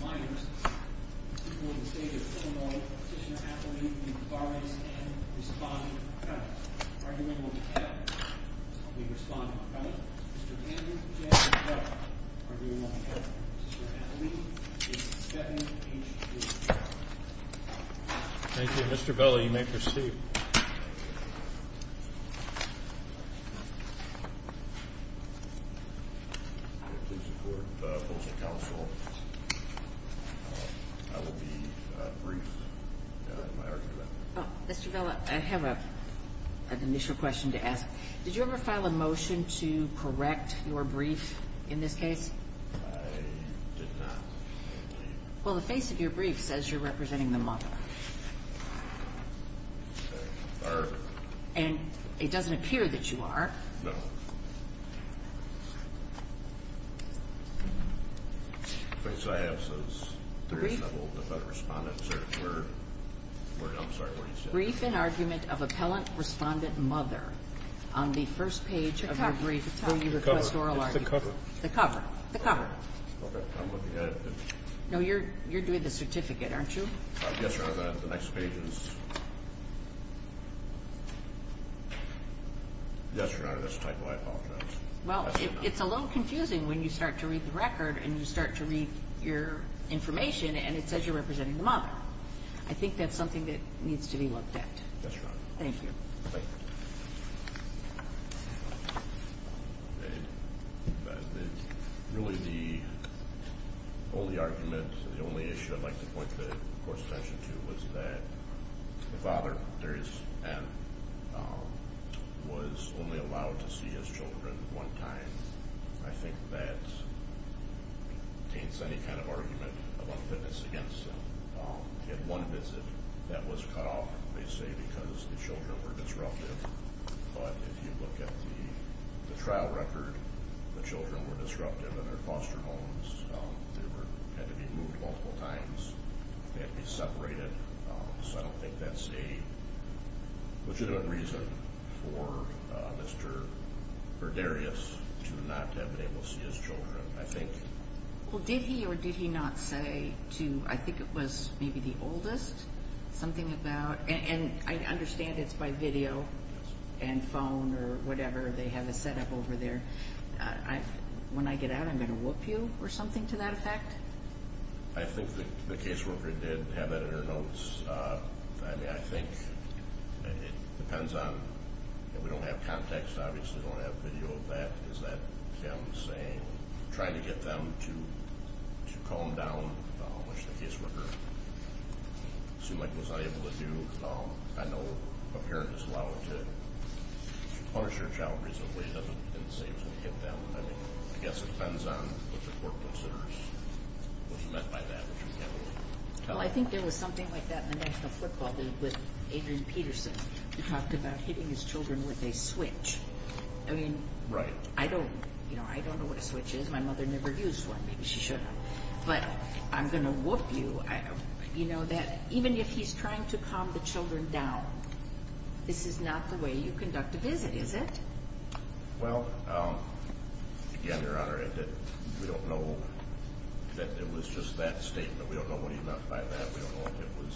Minors, people in the state of Illinois, Petitioner Athalee, and Barnes N. respond to the comments. Argument number 10, I'll be responding to the comment. Mr. Andrew J. Butler, argument number 10. Mr. Athalee, case 7-H-2. Mr. Athalee, case 7-H-2. Ms. Isabella, you may proceed. Mr. Vela, I have an initial question to ask. Did you ever file a motion to correct your brief in this case? I did not. Well, the face of your brief says you're representing the mother. And it doesn't appear that you are. Brief in argument of appellant respondent mother. On the first page of your brief, where you request oral argument. The cover. Okay, I'm looking at it. No, you're doing the certificate, aren't you? Yes, Your Honor, the next page is... Yes, Your Honor, that's typo, I apologize. Well, it's a little confusing when you start to read the record, and you start to read your information, and it says you're representing the mother. I think that's something that needs to be looked at. Yes, Your Honor. Thank you. Really, the only argument, the only issue I'd like to point the court's attention to was that the father, Darius M., was only allowed to see his children one time. I think that paints any kind of argument of unfitness against him. He had one visit that was cut off, they say, because the children were disruptive. But if you look at the trial record, the children were disruptive in their foster homes. They had to be moved multiple times. They had to be separated. So I don't think that's a legitimate reason for Mr. Darius to not have been able to see his children. I think... And phone or whatever, they have it set up over there. When I get out, I'm going to whoop you or something to that effect? I think that the caseworker did have that in her notes. I think it depends on if we don't have context. Obviously, we don't have video of that. Is that him saying, trying to get them to calm down, which the caseworker seemed like he was unable to do? I know a parent is allowed to punish their child reasonably. He doesn't say he was going to hit them. I guess it depends on what the court considers was meant by that. Well, I think there was something like that in the national football with Adrian Peterson. He talked about hitting his children with a switch. I mean, I don't know what a switch is. My mother never used one. Maybe she should have. But I'm going to whoop you. Even if he's trying to calm the children down, this is not the way you conduct a visit, is it? Well, again, Your Honor, we don't know that it was just that statement. We don't know what he meant by that. We don't know if it was,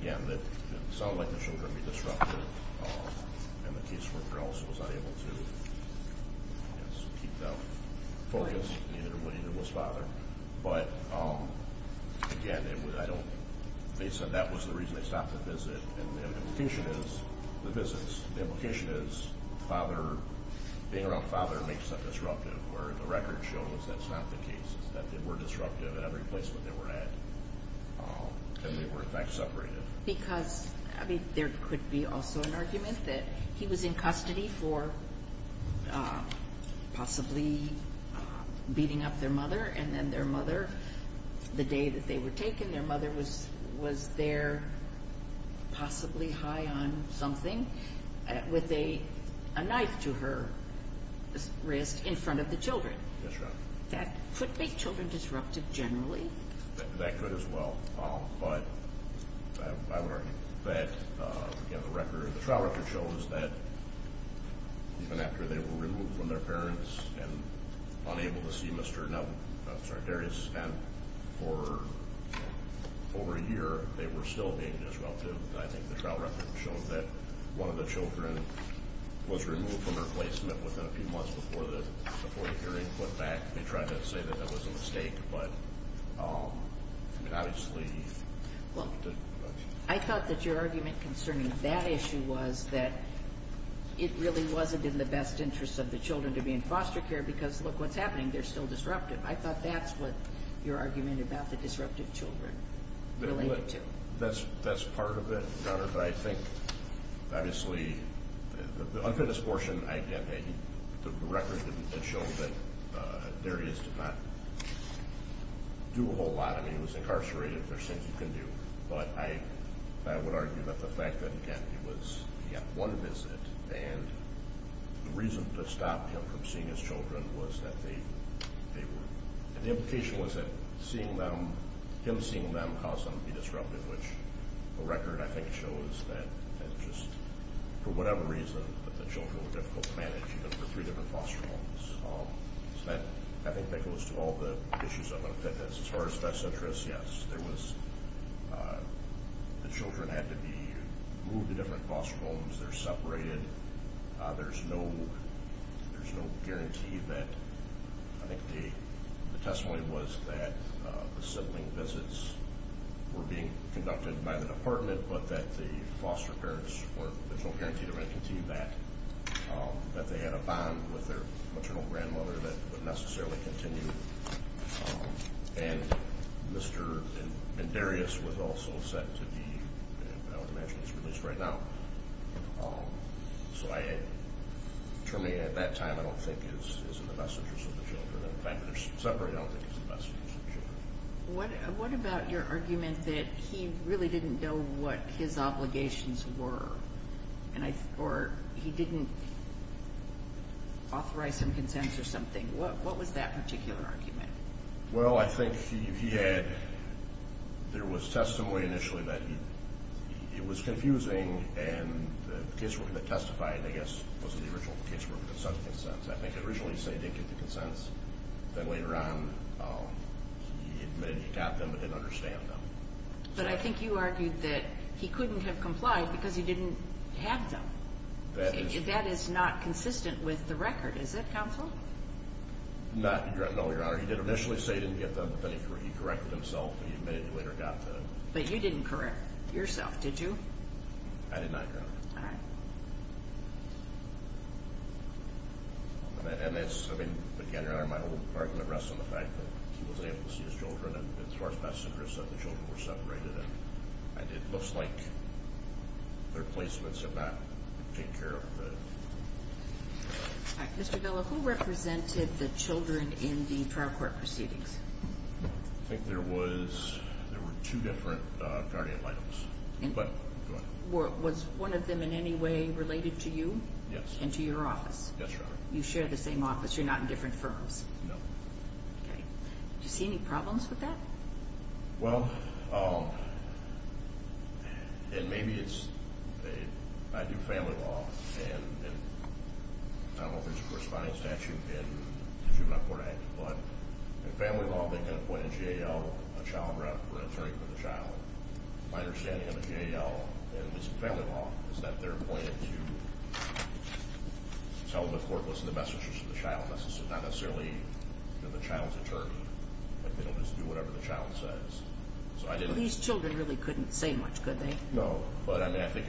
again, that it sounded like the children were being disrupted. And the caseworker also was unable to keep them focused. Neither was father. But, again, they said that was the reason they stopped the visit. And the implication is the visits. The implication is being around father makes them disruptive, where the record shows that's not the case, is that they were disruptive at every place that they were at. And they were, in fact, separated. I mean, there could be also an argument that he was in custody for possibly beating up their mother. And then their mother, the day that they were taken, their mother was there possibly high on something with a knife to her wrist in front of the children. That's right. That could make children disruptive generally. That could as well. But I would argue that the trial record shows that even after they were removed from their parents and unable to see Mr. Darius for over a year, they were still being disruptive. I think the trial record shows that one of the children was removed from their placement within a few months before the hearing put back. I thought that your argument concerning that issue was that it really wasn't in the best interest of the children to be in foster care because, look, what's happening, they're still disruptive. I thought that's what your argument about the disruptive children related to. That's part of it, but I think, obviously, the unfinished portion, the record shows that Darius did not do a whole lot. I mean, he was incarcerated. There's things you can do. But I would argue that the fact that, again, he got one visit and the reason to stop him from seeing his children was that they were, and the implication was that him seeing them caused them to be disruptive, which the record, I think, shows that it just, for whatever reason, that the children were difficult to manage, even for three different foster homes. So that, I think, goes to all the issues of unfitness. As far as best interest, yes, there was, the children had to be moved to different foster homes. They're separated. There's no guarantee that, I think the testimony was that the sibling visits were being conducted by the department, but that the foster parents were, there's no guarantee they were going to continue that, that they had a bond with their maternal grandmother that would necessarily continue. And Mr. Darius was also sent to the, I would imagine he's released right now, so determining at that time I don't think is in the best interest of the children. In the fact that they're separated, I don't think it's in the best interest of the children. What about your argument that he really didn't know what his obligations were or he didn't authorize some consents or something? What was that particular argument? Well, I think he had, there was testimony initially that it was confusing, and the casework that testified, I guess, wasn't the original casework, but some consents. I think originally he said he didn't get the consents. Then later on he admitted he got them but didn't understand them. But I think you argued that he couldn't have complied because he didn't have them. That is not consistent with the record, is it, counsel? No, Your Honor. He did initially say he didn't get them, but then he corrected himself, and he admitted he later got them. But you didn't correct yourself, did you? I did not, Your Honor. All right. And that's, I mean, again, Your Honor, my whole argument rests on the fact that he wasn't able to see his children, and as far as my center is concerned, the children were separated, and it looks like their placements have not been taken care of. All right. Mr. Villa, who represented the children in the trial court proceedings? I think there were two different guardian titles. Was one of them in any way related to you? Yes. And to your office? Yes, Your Honor. You share the same office. You're not in different firms? No. Okay. Did you see any problems with that? Well, and maybe it's a, I do family law, and I don't know if there's a corresponding statute in the Juvenile Court Act, but in family law, they can appoint a JAL, a child rep, or an attorney for the child. My understanding of the JAL, and this is family law, is that they're appointed to tell the court what's in the message to the child, not necessarily the child's attorney, but they'll just do whatever the child says. These children really couldn't say much, could they? No. But, I mean, I think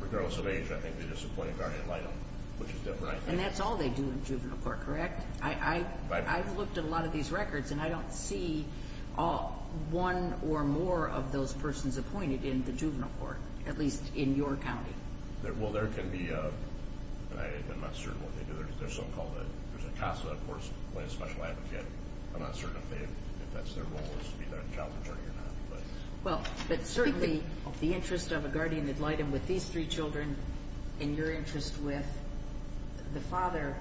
regardless of age, I think they're just appointed guardian title, which is different, I think. And that's all they do in juvenile court, correct? I've looked at a lot of these records, and I don't see one or more of those persons appointed in the juvenile court, at least in your county. Well, there can be, and I'm not certain what they do, there's a CASA, of course, playing a special advocate. I'm not certain if that's their role, is to be their child's attorney or not. Well, but certainly the interest of a guardian ad litem with these three children, and your interest with the father,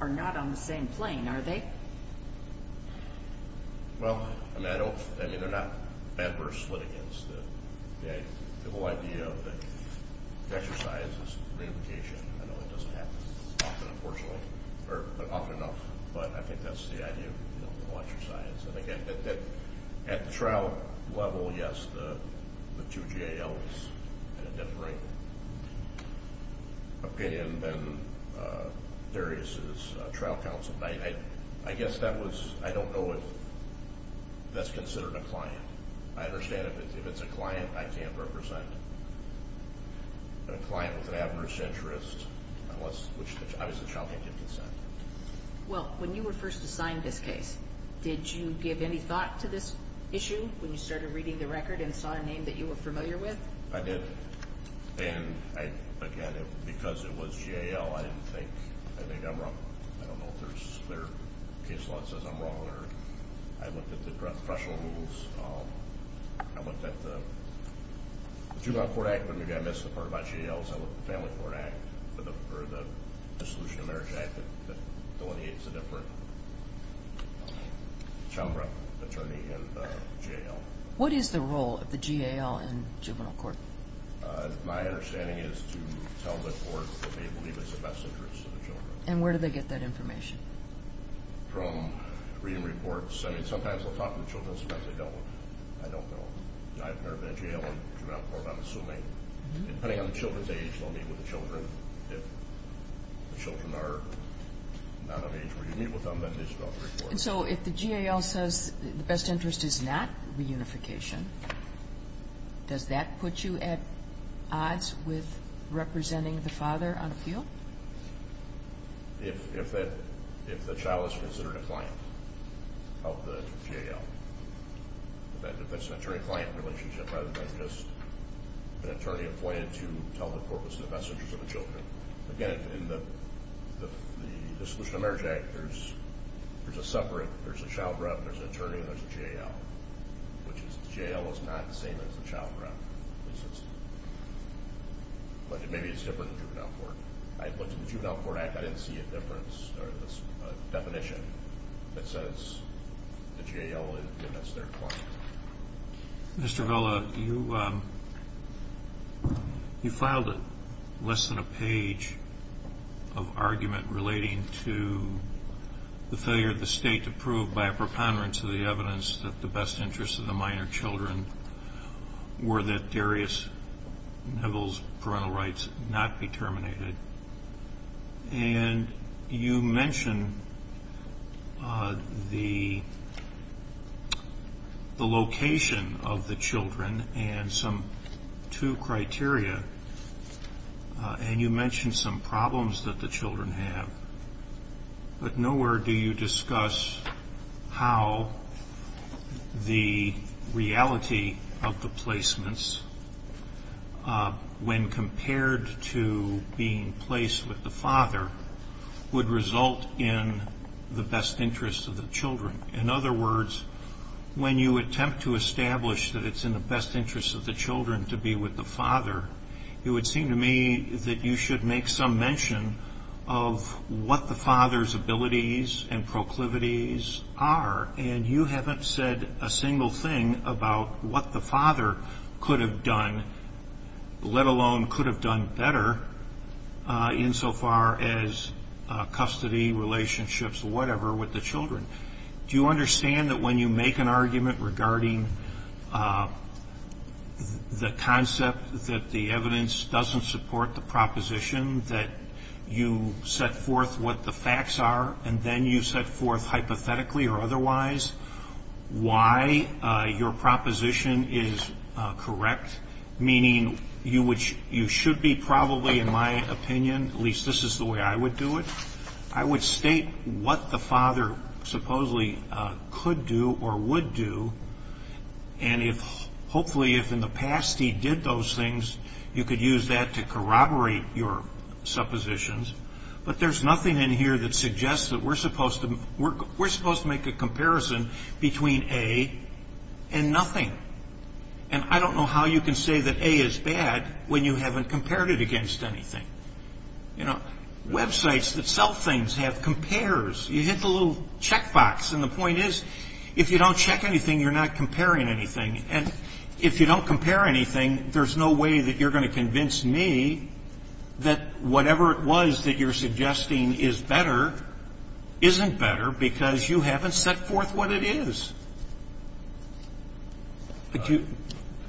are not on the same plane, are they? Well, I mean, they're not adverse litigants. The whole idea of the exercise is reunification. I know it doesn't happen often, unfortunately, or often enough, but I think that's the idea of the exercise. And again, at the trial level, yes, the two GALs had a different opinion than Darius's trial counsel. I guess that was, I don't know if that's considered a client. I understand if it's a client, I can't represent it. But a client with an adverse interest, which obviously the child can't give consent. Well, when you were first assigned this case, did you give any thought to this issue when you started reading the record and saw a name that you were familiar with? I did. And again, because it was GAL, I didn't think, I think I'm wrong. I don't know if their case law says I'm wrong, or I looked at the professional rules. I looked at the Juvenile Court Act, but maybe I missed the part about GALs. I looked at the Family Court Act, or the Dissolution of Marriage Act, that delineates a different chamber of attorney in the GAL. What is the role of the GAL in juvenile court? My understanding is to tell the court that they believe it's the best interest of the children. And where do they get that information? From reading reports. I mean, sometimes they'll talk to the children. Sometimes they don't. I don't know. I've never been to GAL or juvenile court, I'm assuming. Depending on the children's age, they'll meet with the children. If the children are not of age where you meet with them, then they start reporting. And so if the GAL says the best interest is not reunification, does that put you at odds with representing the father on the field? If the child is considered a client of the GAL, if that's an attorney-client relationship rather than just an attorney appointed to tell the court what's in the best interest of the children. Again, in the Dissolution of Marriage Act, there's a separate, there's a child rep, there's an attorney, and there's a GAL, which is the GAL is not the same as the child rep. But maybe it's different in juvenile court. I went to the Juvenile Court Act. I didn't see a difference or a definition that says the GAL is their client. Mr. Vella, you filed less than a page of argument relating to the failure of the state to prove by a preponderance of the evidence that the best interests of the minor children were that Darius Neville's parental rights not be terminated. And you mentioned the location of the children and some two criteria, and you mentioned some problems that the children have. But nowhere do you discuss how the reality of the placements, when compared to being placed with the father, would result in the best interests of the children. In other words, when you attempt to establish that it's in the best interests of the children to be with the father, it would seem to me that you should make some mention of what the father's abilities and proclivities are, and you haven't said a single thing about what the father could have done, let alone could have done better insofar as custody, relationships, whatever, with the children. Do you understand that when you make an argument regarding the concept that the evidence doesn't support the proposition that you set forth what the facts are and then you set forth hypothetically or otherwise why your proposition is correct, meaning you should be probably, in my opinion, at least this is the way I would do it, I would state what the father supposedly could do or would do, and hopefully if in the past he did those things, you could use that to corroborate your suppositions. But there's nothing in here that suggests that we're supposed to make a comparison between A and nothing. And I don't know how you can say that A is bad when you haven't compared it against anything. You know, websites that sell things have compares. You hit the little checkbox, and the point is if you don't check anything, you're not comparing anything. And if you don't compare anything, there's no way that you're going to convince me that whatever it was that you're suggesting is better isn't better because you haven't set forth what it is.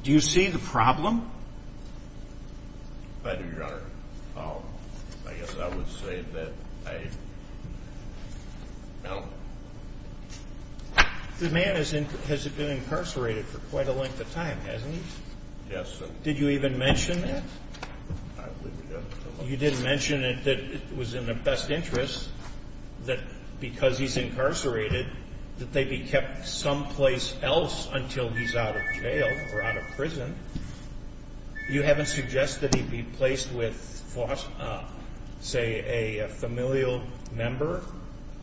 Do you see the problem? I do, Your Honor. I guess I would say that I don't. The man has been incarcerated for quite a length of time, hasn't he? Yes, sir. Did you even mention that? I believe we did. You didn't mention that it was in the best interest that because he's incarcerated that they be kept someplace else until he's out of jail or out of prison. You haven't suggested he be placed with, say, a familial member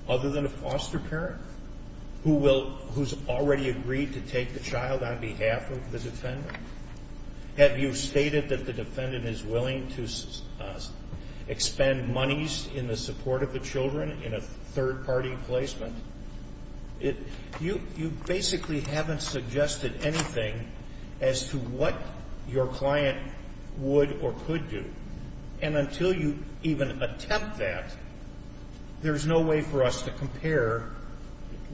other than a foster parent who's already agreed to take the child on behalf of the defendant. Have you stated that the defendant is willing to expend monies in the support of the children in a third-party placement? You basically haven't suggested anything as to what your client would or could do. And until you even attempt that, there's no way for us to compare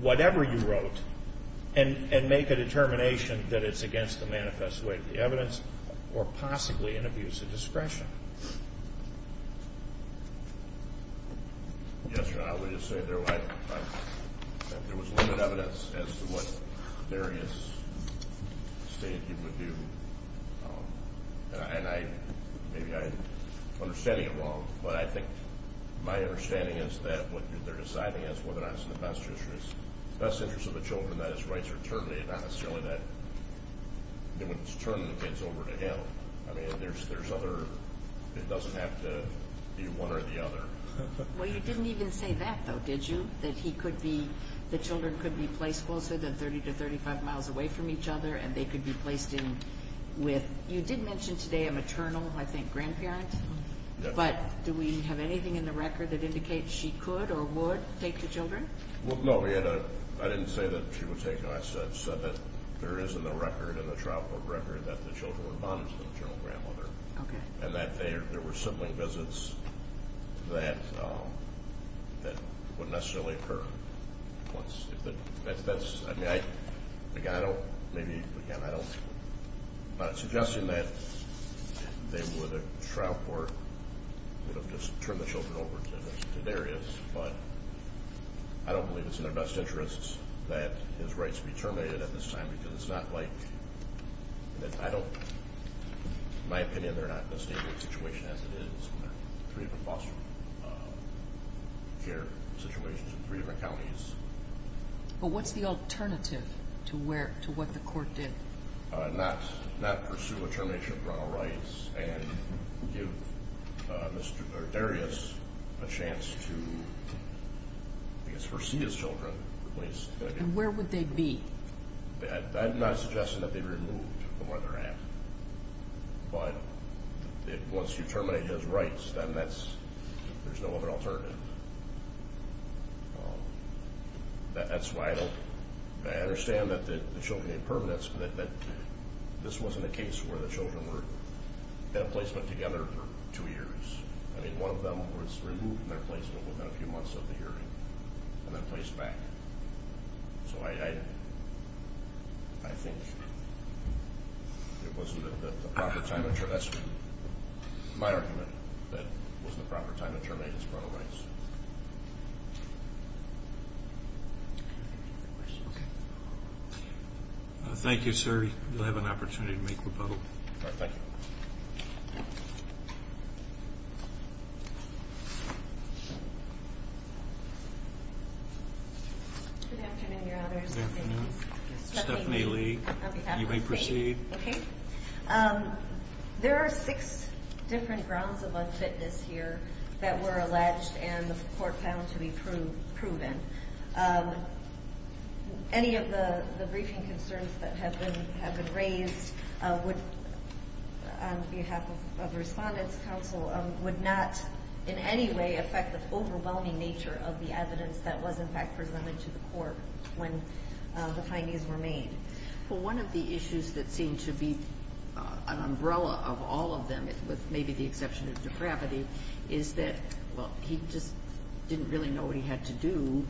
whatever you wrote and make a determination that it's against the manifest way of the evidence or possibly an abuse of discretion. Yes, Your Honor. I would just say there was limited evidence as to what various statements he would do. And maybe I'm understanding it wrong, but I think my understanding is that what they're deciding is whether or not it's in the best interest of the children that his rights are terminated, not necessarily that when it's terminated it's over to him. I mean, it doesn't have to be one or the other. Well, you didn't even say that, though, did you, that the children could be placed closer than 30 to 35 miles away from each other and they could be placed in with? You did mention today a maternal, I think, grandparent. But do we have anything in the record that indicates she could or would take the children? Well, no. I didn't say that she would take them. I said that there is in the record, in the trial court record, that the children were bonds to the maternal grandmother and that there were sibling visits that wouldn't necessarily occur. That's, I mean, again, I don't, maybe, again, I'm not suggesting that they would, a trial court would have just turned the children over to various, but I don't believe it's in their best interests that his rights be terminated at this time because it's not like, I don't, in my opinion, they're not in the same situation as it is in their three different foster care situations in three different counties. But what's the alternative to where, to what the court did? Not pursue a termination of Ronald Wright's and give Mr. Darius a chance to, I guess, foresee his children placed. And where would they be? I'm not suggesting that they'd be removed from where they're at, but once you terminate his rights, then that's, there's no other alternative. That's why I don't, I understand that the children need permanence, but that this wasn't a case where the children were in a placement together for two years. I mean, one of them was removed from their placement within a few months of the hearing and then placed back. So I think it wasn't the proper time, that's my argument, that it wasn't the proper time to terminate his Ronald Wrights. Thank you, sir. You'll have an opportunity to make rebuttal. Thank you. Good afternoon, Your Honors. Good afternoon. On behalf of the state. You may proceed. Okay. There are six different grounds of unfitness here that were alleged and the court found to be proven. Any of the briefing concerns that have been raised would, on behalf of the Respondents' Council, would not in any way affect the overwhelming nature of the evidence that was, in fact, presented to the court when the findings were made. Well, one of the issues that seemed to be an umbrella of all of them, with maybe the exception of depravity, is that, well, he just didn't really know what he had to do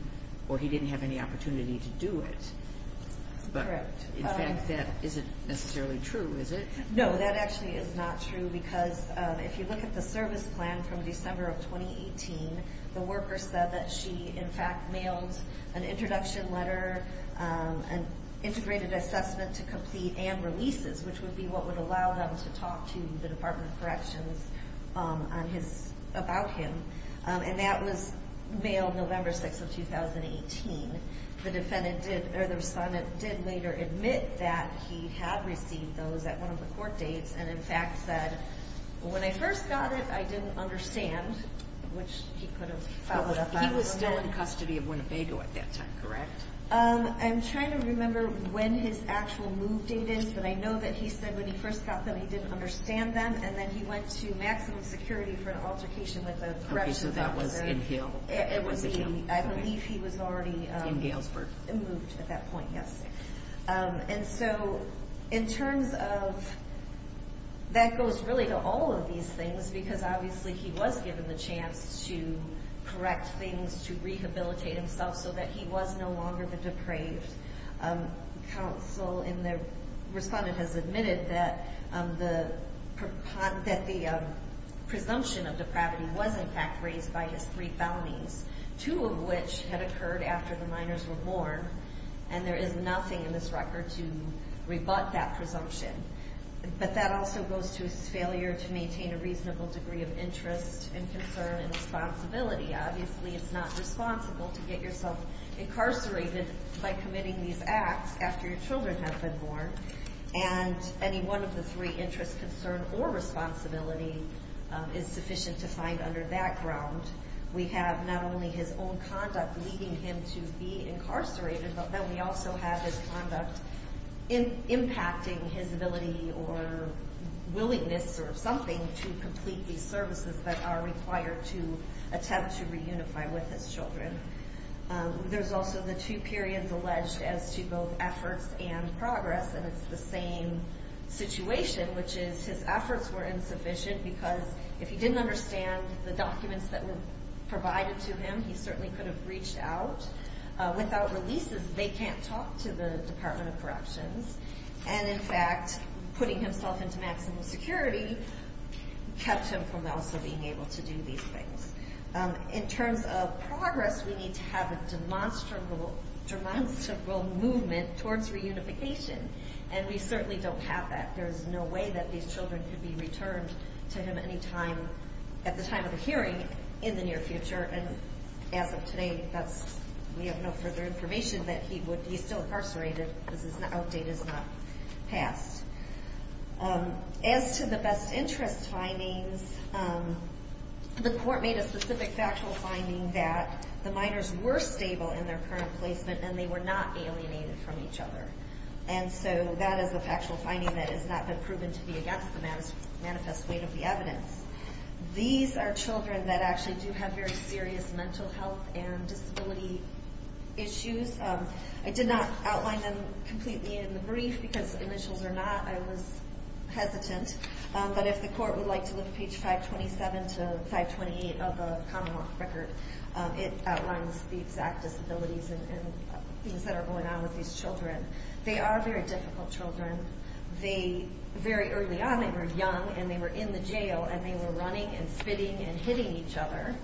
or he didn't have any opportunity to do it. Correct. But, in fact, that isn't necessarily true, is it? No, that actually is not true because if you look at the service plan from December of 2018, the worker said that she, in fact, mailed an introduction letter, an integrated assessment to complete, and releases, which would be what would allow them to talk to the Department of Corrections about him. And that was mailed November 6 of 2018. The Respondent did later admit that he had received those at one of the court dates and, in fact, said, When I first got it, I didn't understand, which he could have followed up on. He was still in custody of Winnebago at that time, correct? I'm trying to remember when his actual move date is, but I know that he said when he first got them he didn't understand them, and then he went to maximum security for an altercation with the corrections officer. Okay, so that was in Hill. It was in Hill. I believe he was already moved at that point, yes. And so in terms of that goes really to all of these things because obviously he was given the chance to correct things, to rehabilitate himself so that he was no longer the depraved. Counsel and the Respondent has admitted that the presumption of depravity was, in fact, raised by his three bounties, and there is nothing in this record to rebut that presumption. But that also goes to his failure to maintain a reasonable degree of interest and concern and responsibility. Obviously, it's not responsible to get yourself incarcerated by committing these acts after your children have been born, and any one of the three, interest, concern, or responsibility, is sufficient to find under that ground. We have not only his own conduct leading him to be incarcerated, but then we also have his conduct impacting his ability or willingness or something to complete these services that are required to attempt to reunify with his children. There's also the two periods alleged as to both efforts and progress, and it's the same situation, which is his efforts were insufficient because if he didn't understand the documents that were provided to him, he certainly could have reached out. Without releases, they can't talk to the Department of Corrections, and, in fact, putting himself into maximal security kept him from also being able to do these things. In terms of progress, we need to have a demonstrable movement towards reunification, and we certainly don't have that. There's no way that these children could be returned to him at the time of the hearing in the near future, and as of today, we have no further information that he's still incarcerated because his outdate is not passed. As to the best interest findings, the court made a specific factual finding that the minors were stable in their current placement and they were not alienated from each other. And so that is a factual finding that has not been proven to be against the manifest weight of the evidence. These are children that actually do have very serious mental health and disability issues. I did not outline them completely in the brief because initials are not. I was hesitant, but if the court would like to look at page 527 to 528 of the Commonwealth record, it outlines the exact disabilities and things that are going on with these children. They are very difficult children. Very early on, they were young, and they were in the jail, and they were running and spitting and hitting each other.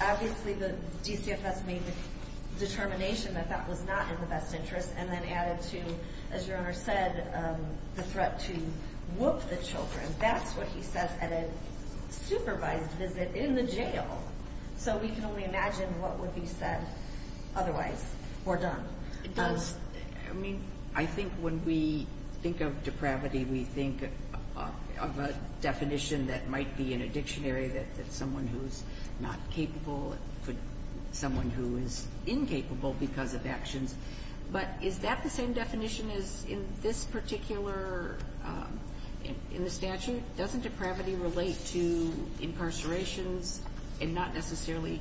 Obviously, the DCFS made the determination that that was not in the best interest and then added to, as your owner said, the threat to whoop the children. That's what he says at a supervised visit in the jail. So we can only imagine what would be said otherwise or done. I mean, I think when we think of depravity, we think of a definition that might be in a dictionary that someone who is not capable, someone who is incapable because of actions. But is that the same definition as in this particular statute? Doesn't depravity relate to incarcerations and not necessarily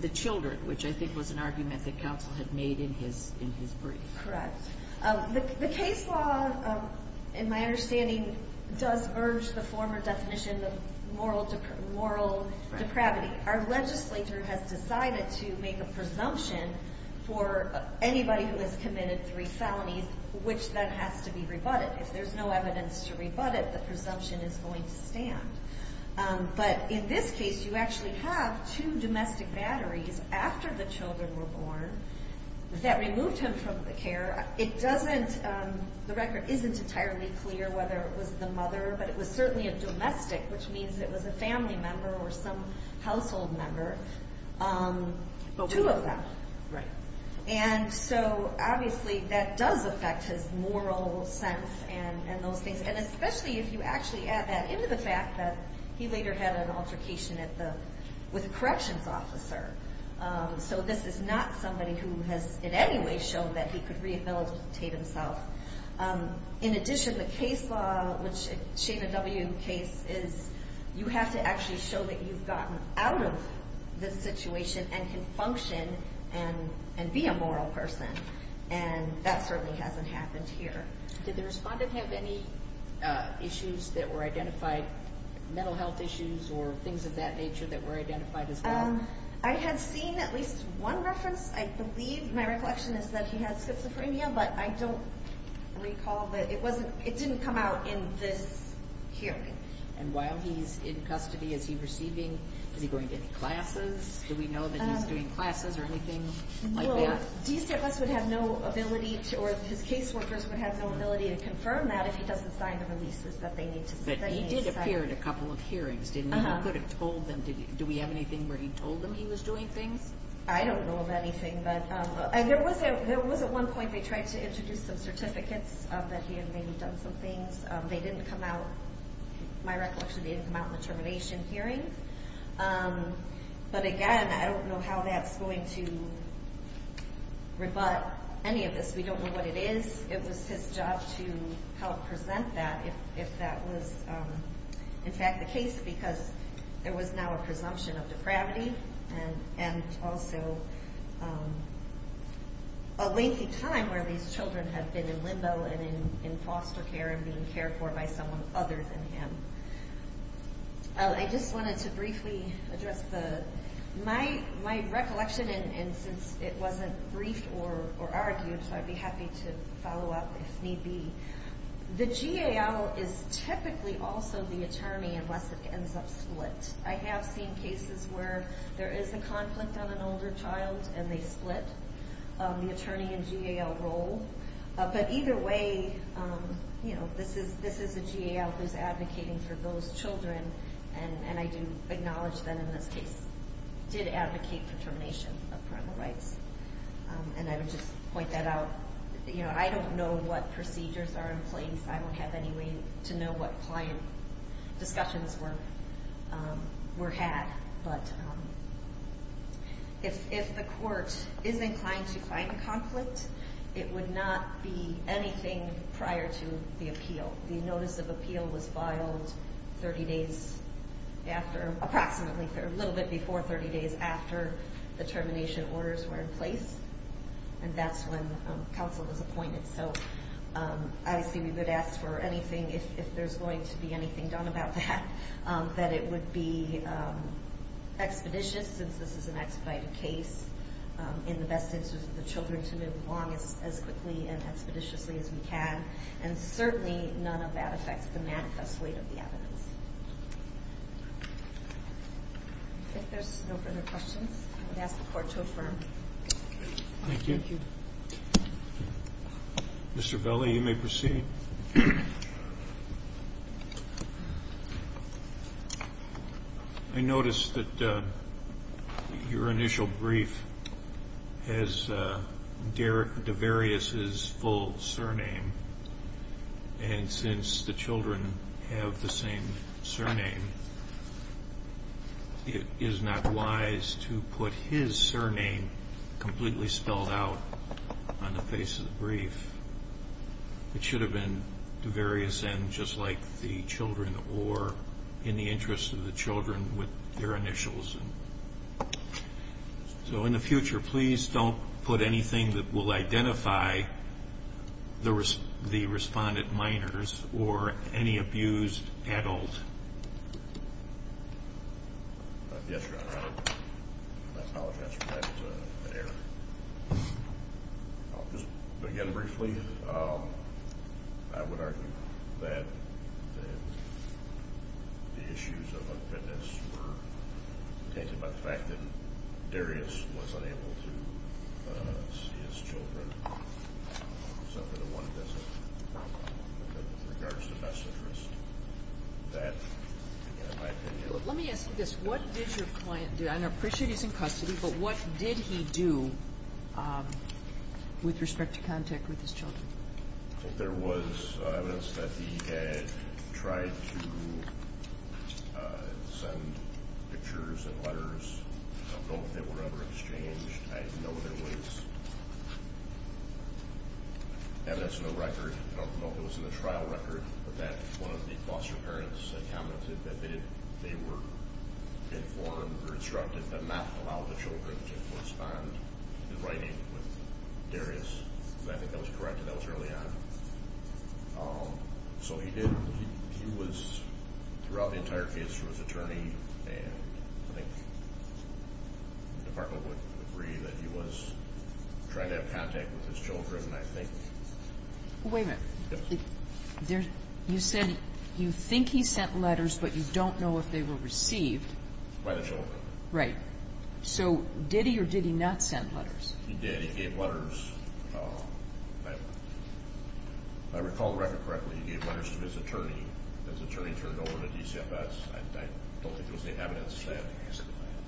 the children, which I think was an argument that counsel had made in his brief. Correct. The case law, in my understanding, does urge the former definition of moral depravity. Our legislature has decided to make a presumption for anybody who has committed three felonies, which then has to be rebutted. If there's no evidence to rebut it, the presumption is going to stand. But in this case, you actually have two domestic batteries after the children were born that removed him from the care. The record isn't entirely clear whether it was the mother, but it was certainly a domestic, which means it was a family member or some household member, two of them. Right. And so obviously that does affect his moral sense and those things, and especially if you actually add that into the fact that he later had an altercation with a corrections officer. So this is not somebody who has in any way shown that he could rehabilitate himself. In addition, the case law, which is a W case, is you have to actually show that you've gotten out of this situation and can function and be a moral person, and that certainly hasn't happened here. Did the respondent have any issues that were identified, mental health issues or things of that nature that were identified as well? I had seen at least one reference. I believe my reflection is that he had schizophrenia, but I don't recall that it didn't come out in this hearing. And while he's in custody, is he receiving, is he going to any classes? Do we know that he's doing classes or anything like that? Well, DCFS would have no ability, or his case workers would have no ability to confirm that if he doesn't sign the releases that they need to sign. But he did appear at a couple of hearings, didn't he? Uh-huh. You could have told them. Do we have anything where he told them he was doing things? I don't know of anything. There was at one point they tried to introduce some certificates that he had maybe done some things. They didn't come out, my recollection, they didn't come out in the termination hearing. But again, I don't know how that's going to rebut any of this. We don't know what it is. It was his job to help present that if that was in fact the case because there was now a presumption of depravity and also a lengthy time where these children had been in limbo and in foster care and being cared for by someone other than him. I just wanted to briefly address my recollection, and since it wasn't briefed or argued, so I'd be happy to follow up if need be. The GAL is typically also the attorney unless it ends up split. I have seen cases where there is a conflict on an older child and they split the attorney and GAL role. But either way, this is a GAL who's advocating for those children, and I do acknowledge that in this case did advocate for termination of parental rights. And I would just point that out. I don't know what procedures are in place. I don't have any way to know what client discussions were had. But if the court is inclined to find a conflict, it would not be anything prior to the appeal. The notice of appeal was filed 30 days after, approximately a little bit before 30 days after the termination orders were in place, and that's when counsel was appointed. So obviously we would ask for anything, if there's going to be anything done about that, that it would be expeditious, since this is an expedited case, in the best interest of the children to move along as quickly and expeditiously as we can. And certainly none of that affects the manifest weight of the evidence. If there's no further questions, I would ask the court to affirm. Thank you. Thank you. Mr. Velli, you may proceed. Thank you. I noticed that your initial brief has Devarius's full surname, and since the children have the same surname, it is not wise to put his surname completely spelled out on the face of the brief. It should have been Devarius and just like the children or in the interest of the children with their initials. So in the future, please don't put anything that will identify the respondent minors or any abused adult. Yes, Your Honor. I apologize for that error. I'll just begin briefly. I would argue that the issues of unfitness were tainted by the fact that Devarius was unable to see his children except for the one visit, in regards to best interest. That, in my opinion, Let me ask you this. What did your client do? I appreciate he's in custody, but what did he do with respect to contact with his children? There was evidence that he had tried to send pictures and letters of both that were ever exchanged. I know there was evidence in the record. I don't know if it was in the trial record, but that one of the foster parents had commented that they were informed or instructed to not allow the children to correspond in writing with Devarius. I think that was corrected. That was early on. So he was, throughout the entire case, through his attorney, and I think the department would agree that he was trying to have contact with his children, and I think Wait a minute. You said you think he sent letters, but you don't know if they were received. By the children. Right. So did he or did he not send letters? He did. He gave letters. If I recall the record correctly, he gave letters to his attorney. His attorney turned over to DCFS. I don't think it was the evidence that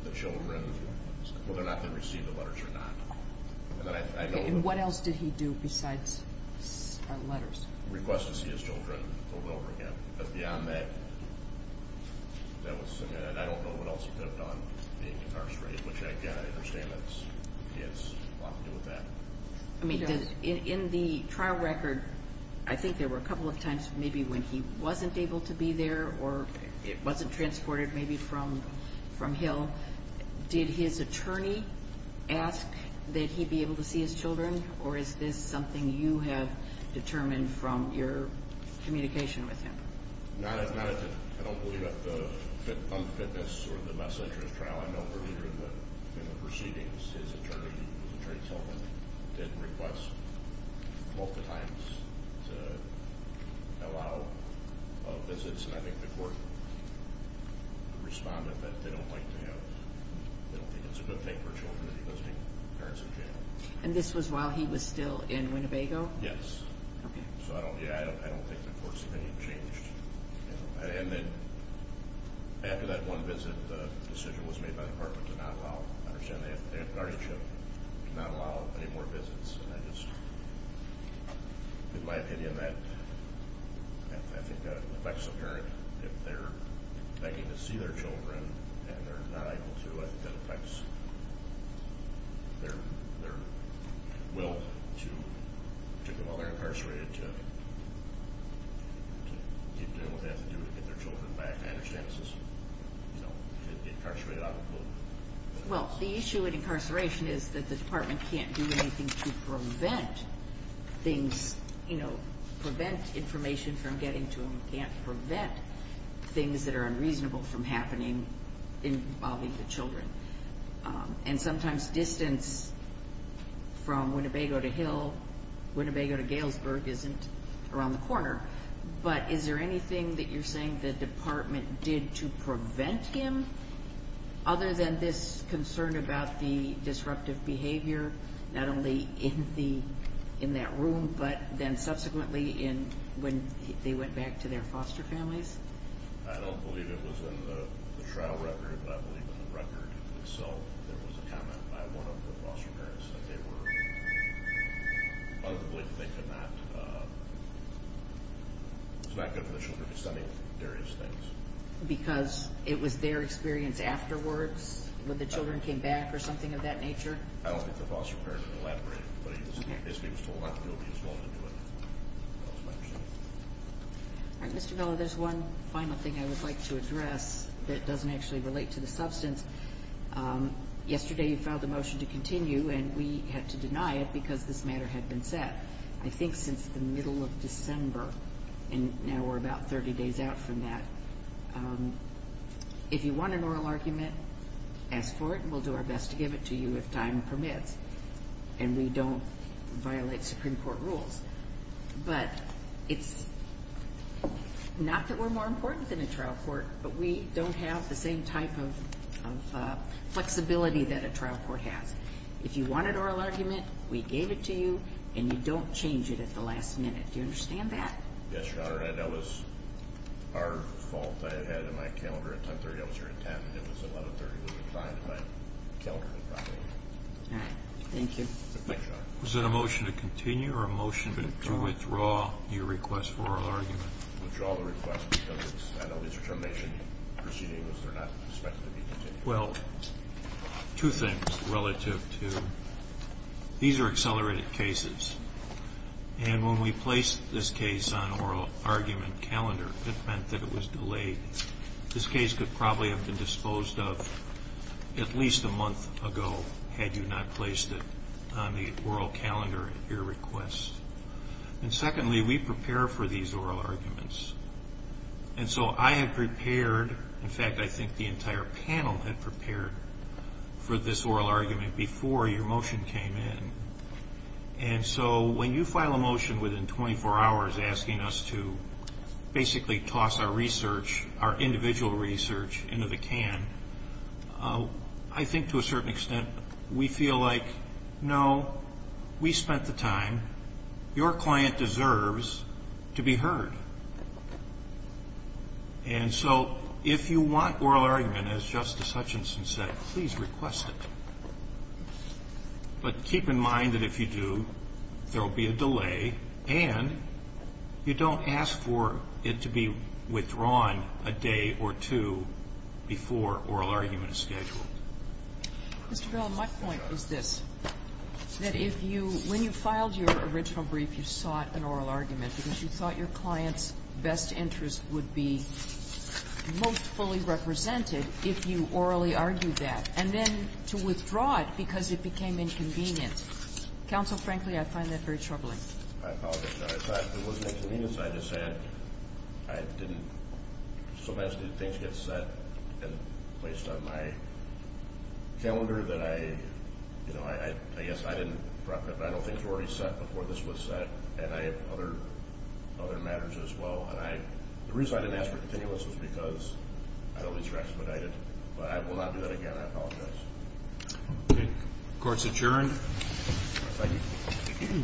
the children, whether or not they received the letters or not. And what else did he do besides send letters? Request to see his children pulled over again. But beyond that, that was submitted. I don't know what else he did on being incarcerated, which I understand that he has a lot to do with that. I mean, in the trial record, I think there were a couple of times maybe when he wasn't able to be there or it wasn't transported maybe from Hill. Did his attorney ask that he be able to see his children, or is this something you have determined from your communication with him? Not at this time. I don't believe that the unfitness or the less interest trial, I know for a leader in the proceedings, his attorney himself did request multiple times to allow visits, and I think the court responded that they don't like to have, they don't think it's a good thing for children to be visiting parents in jail. And this was while he was still in Winnebago? Yes. So I don't think the court's opinion changed. And then after that one visit, the decision was made by the department to not allow, I understand they have guardianship, to not allow any more visits. And I just, in my opinion, that I think affects the parent. If they're begging to see their children and they're not able to, I think that affects their will to, particularly while they're incarcerated, to do what they have to do to get their children back. I understand this is, you know, to be incarcerated out of the blue. Well, the issue with incarceration is that the department can't do anything to prevent things, you know, prevent information from getting to them. It can't prevent things that are unreasonable from happening involving the children. And sometimes distance from Winnebago to Hill, Winnebago to Galesburg isn't around the corner. But is there anything that you're saying the department did to prevent him? Other than this concern about the disruptive behavior, not only in that room, but then subsequently when they went back to their foster families? I don't believe it was in the trial record, but I believe in the record itself. There was a comment by one of the foster parents that they were probably thinking that it's not good for the children to be studying various things. Because it was their experience afterwards, when the children came back or something of that nature? I don't think the foster parent elaborated. But he was told not to be involved in it. All right, Mr. Miller, there's one final thing I would like to address that doesn't actually relate to the substance. Yesterday you filed a motion to continue, and we had to deny it because this matter had been set, I think since the middle of December, and now we're about 30 days out from that. If you want an oral argument, ask for it, and we'll do our best to give it to you if time permits, and we don't violate Supreme Court rules. But it's not that we're more important than a trial court, but we don't have the same type of flexibility that a trial court has. If you want an oral argument, we gave it to you, and you don't change it at the last minute. Do you understand that? Yes, Your Honor, and that was our fault. I had it in my calendar at 10.30. I was here at 10, and it was 11.30. We were trying to find it in my calendar. All right. Thank you. Thank you, Your Honor. Was it a motion to continue or a motion to withdraw your request for oral argument? To withdraw the request because I know these are termination proceedings. They're not expected to be continued. Well, two things relative to these are accelerated cases, and when we placed this case on oral argument calendar, it meant that it was delayed. This case could probably have been disposed of at least a month ago had you not placed it on the oral calendar at your request. And secondly, we prepare for these oral arguments, and so I have prepared. In fact, I think the entire panel had prepared for this oral argument before your motion came in. And so when you file a motion within 24 hours asking us to basically toss our research, our individual research, into the can, I think to a certain extent we feel like, no, we spent the time. Your client deserves to be heard. And so if you want oral argument, as Justice Hutchinson said, please request it. But keep in mind that if you do, there will be a delay, and you don't ask for it to be withdrawn a day or two before oral argument is scheduled. Mr. Bell, my point is this, that if you – when you filed your original brief, you sought an oral argument because you thought your client's best interest would be most fully represented if you orally argued that. And then to withdraw it because it became inconvenient. Counsel, frankly, I find that very troubling. I apologize, Your Honor. In fact, it wasn't inconvenience. I just said I didn't – so much that things get set and placed on my calendar that I – you know, I guess I didn't – I know things were already set before this was set, and I have other matters as well. And I – the reason I didn't ask for continuous was because I don't need to expedite it. But I will not do that again. I apologize. Okay. Court's adjourned. Thank you.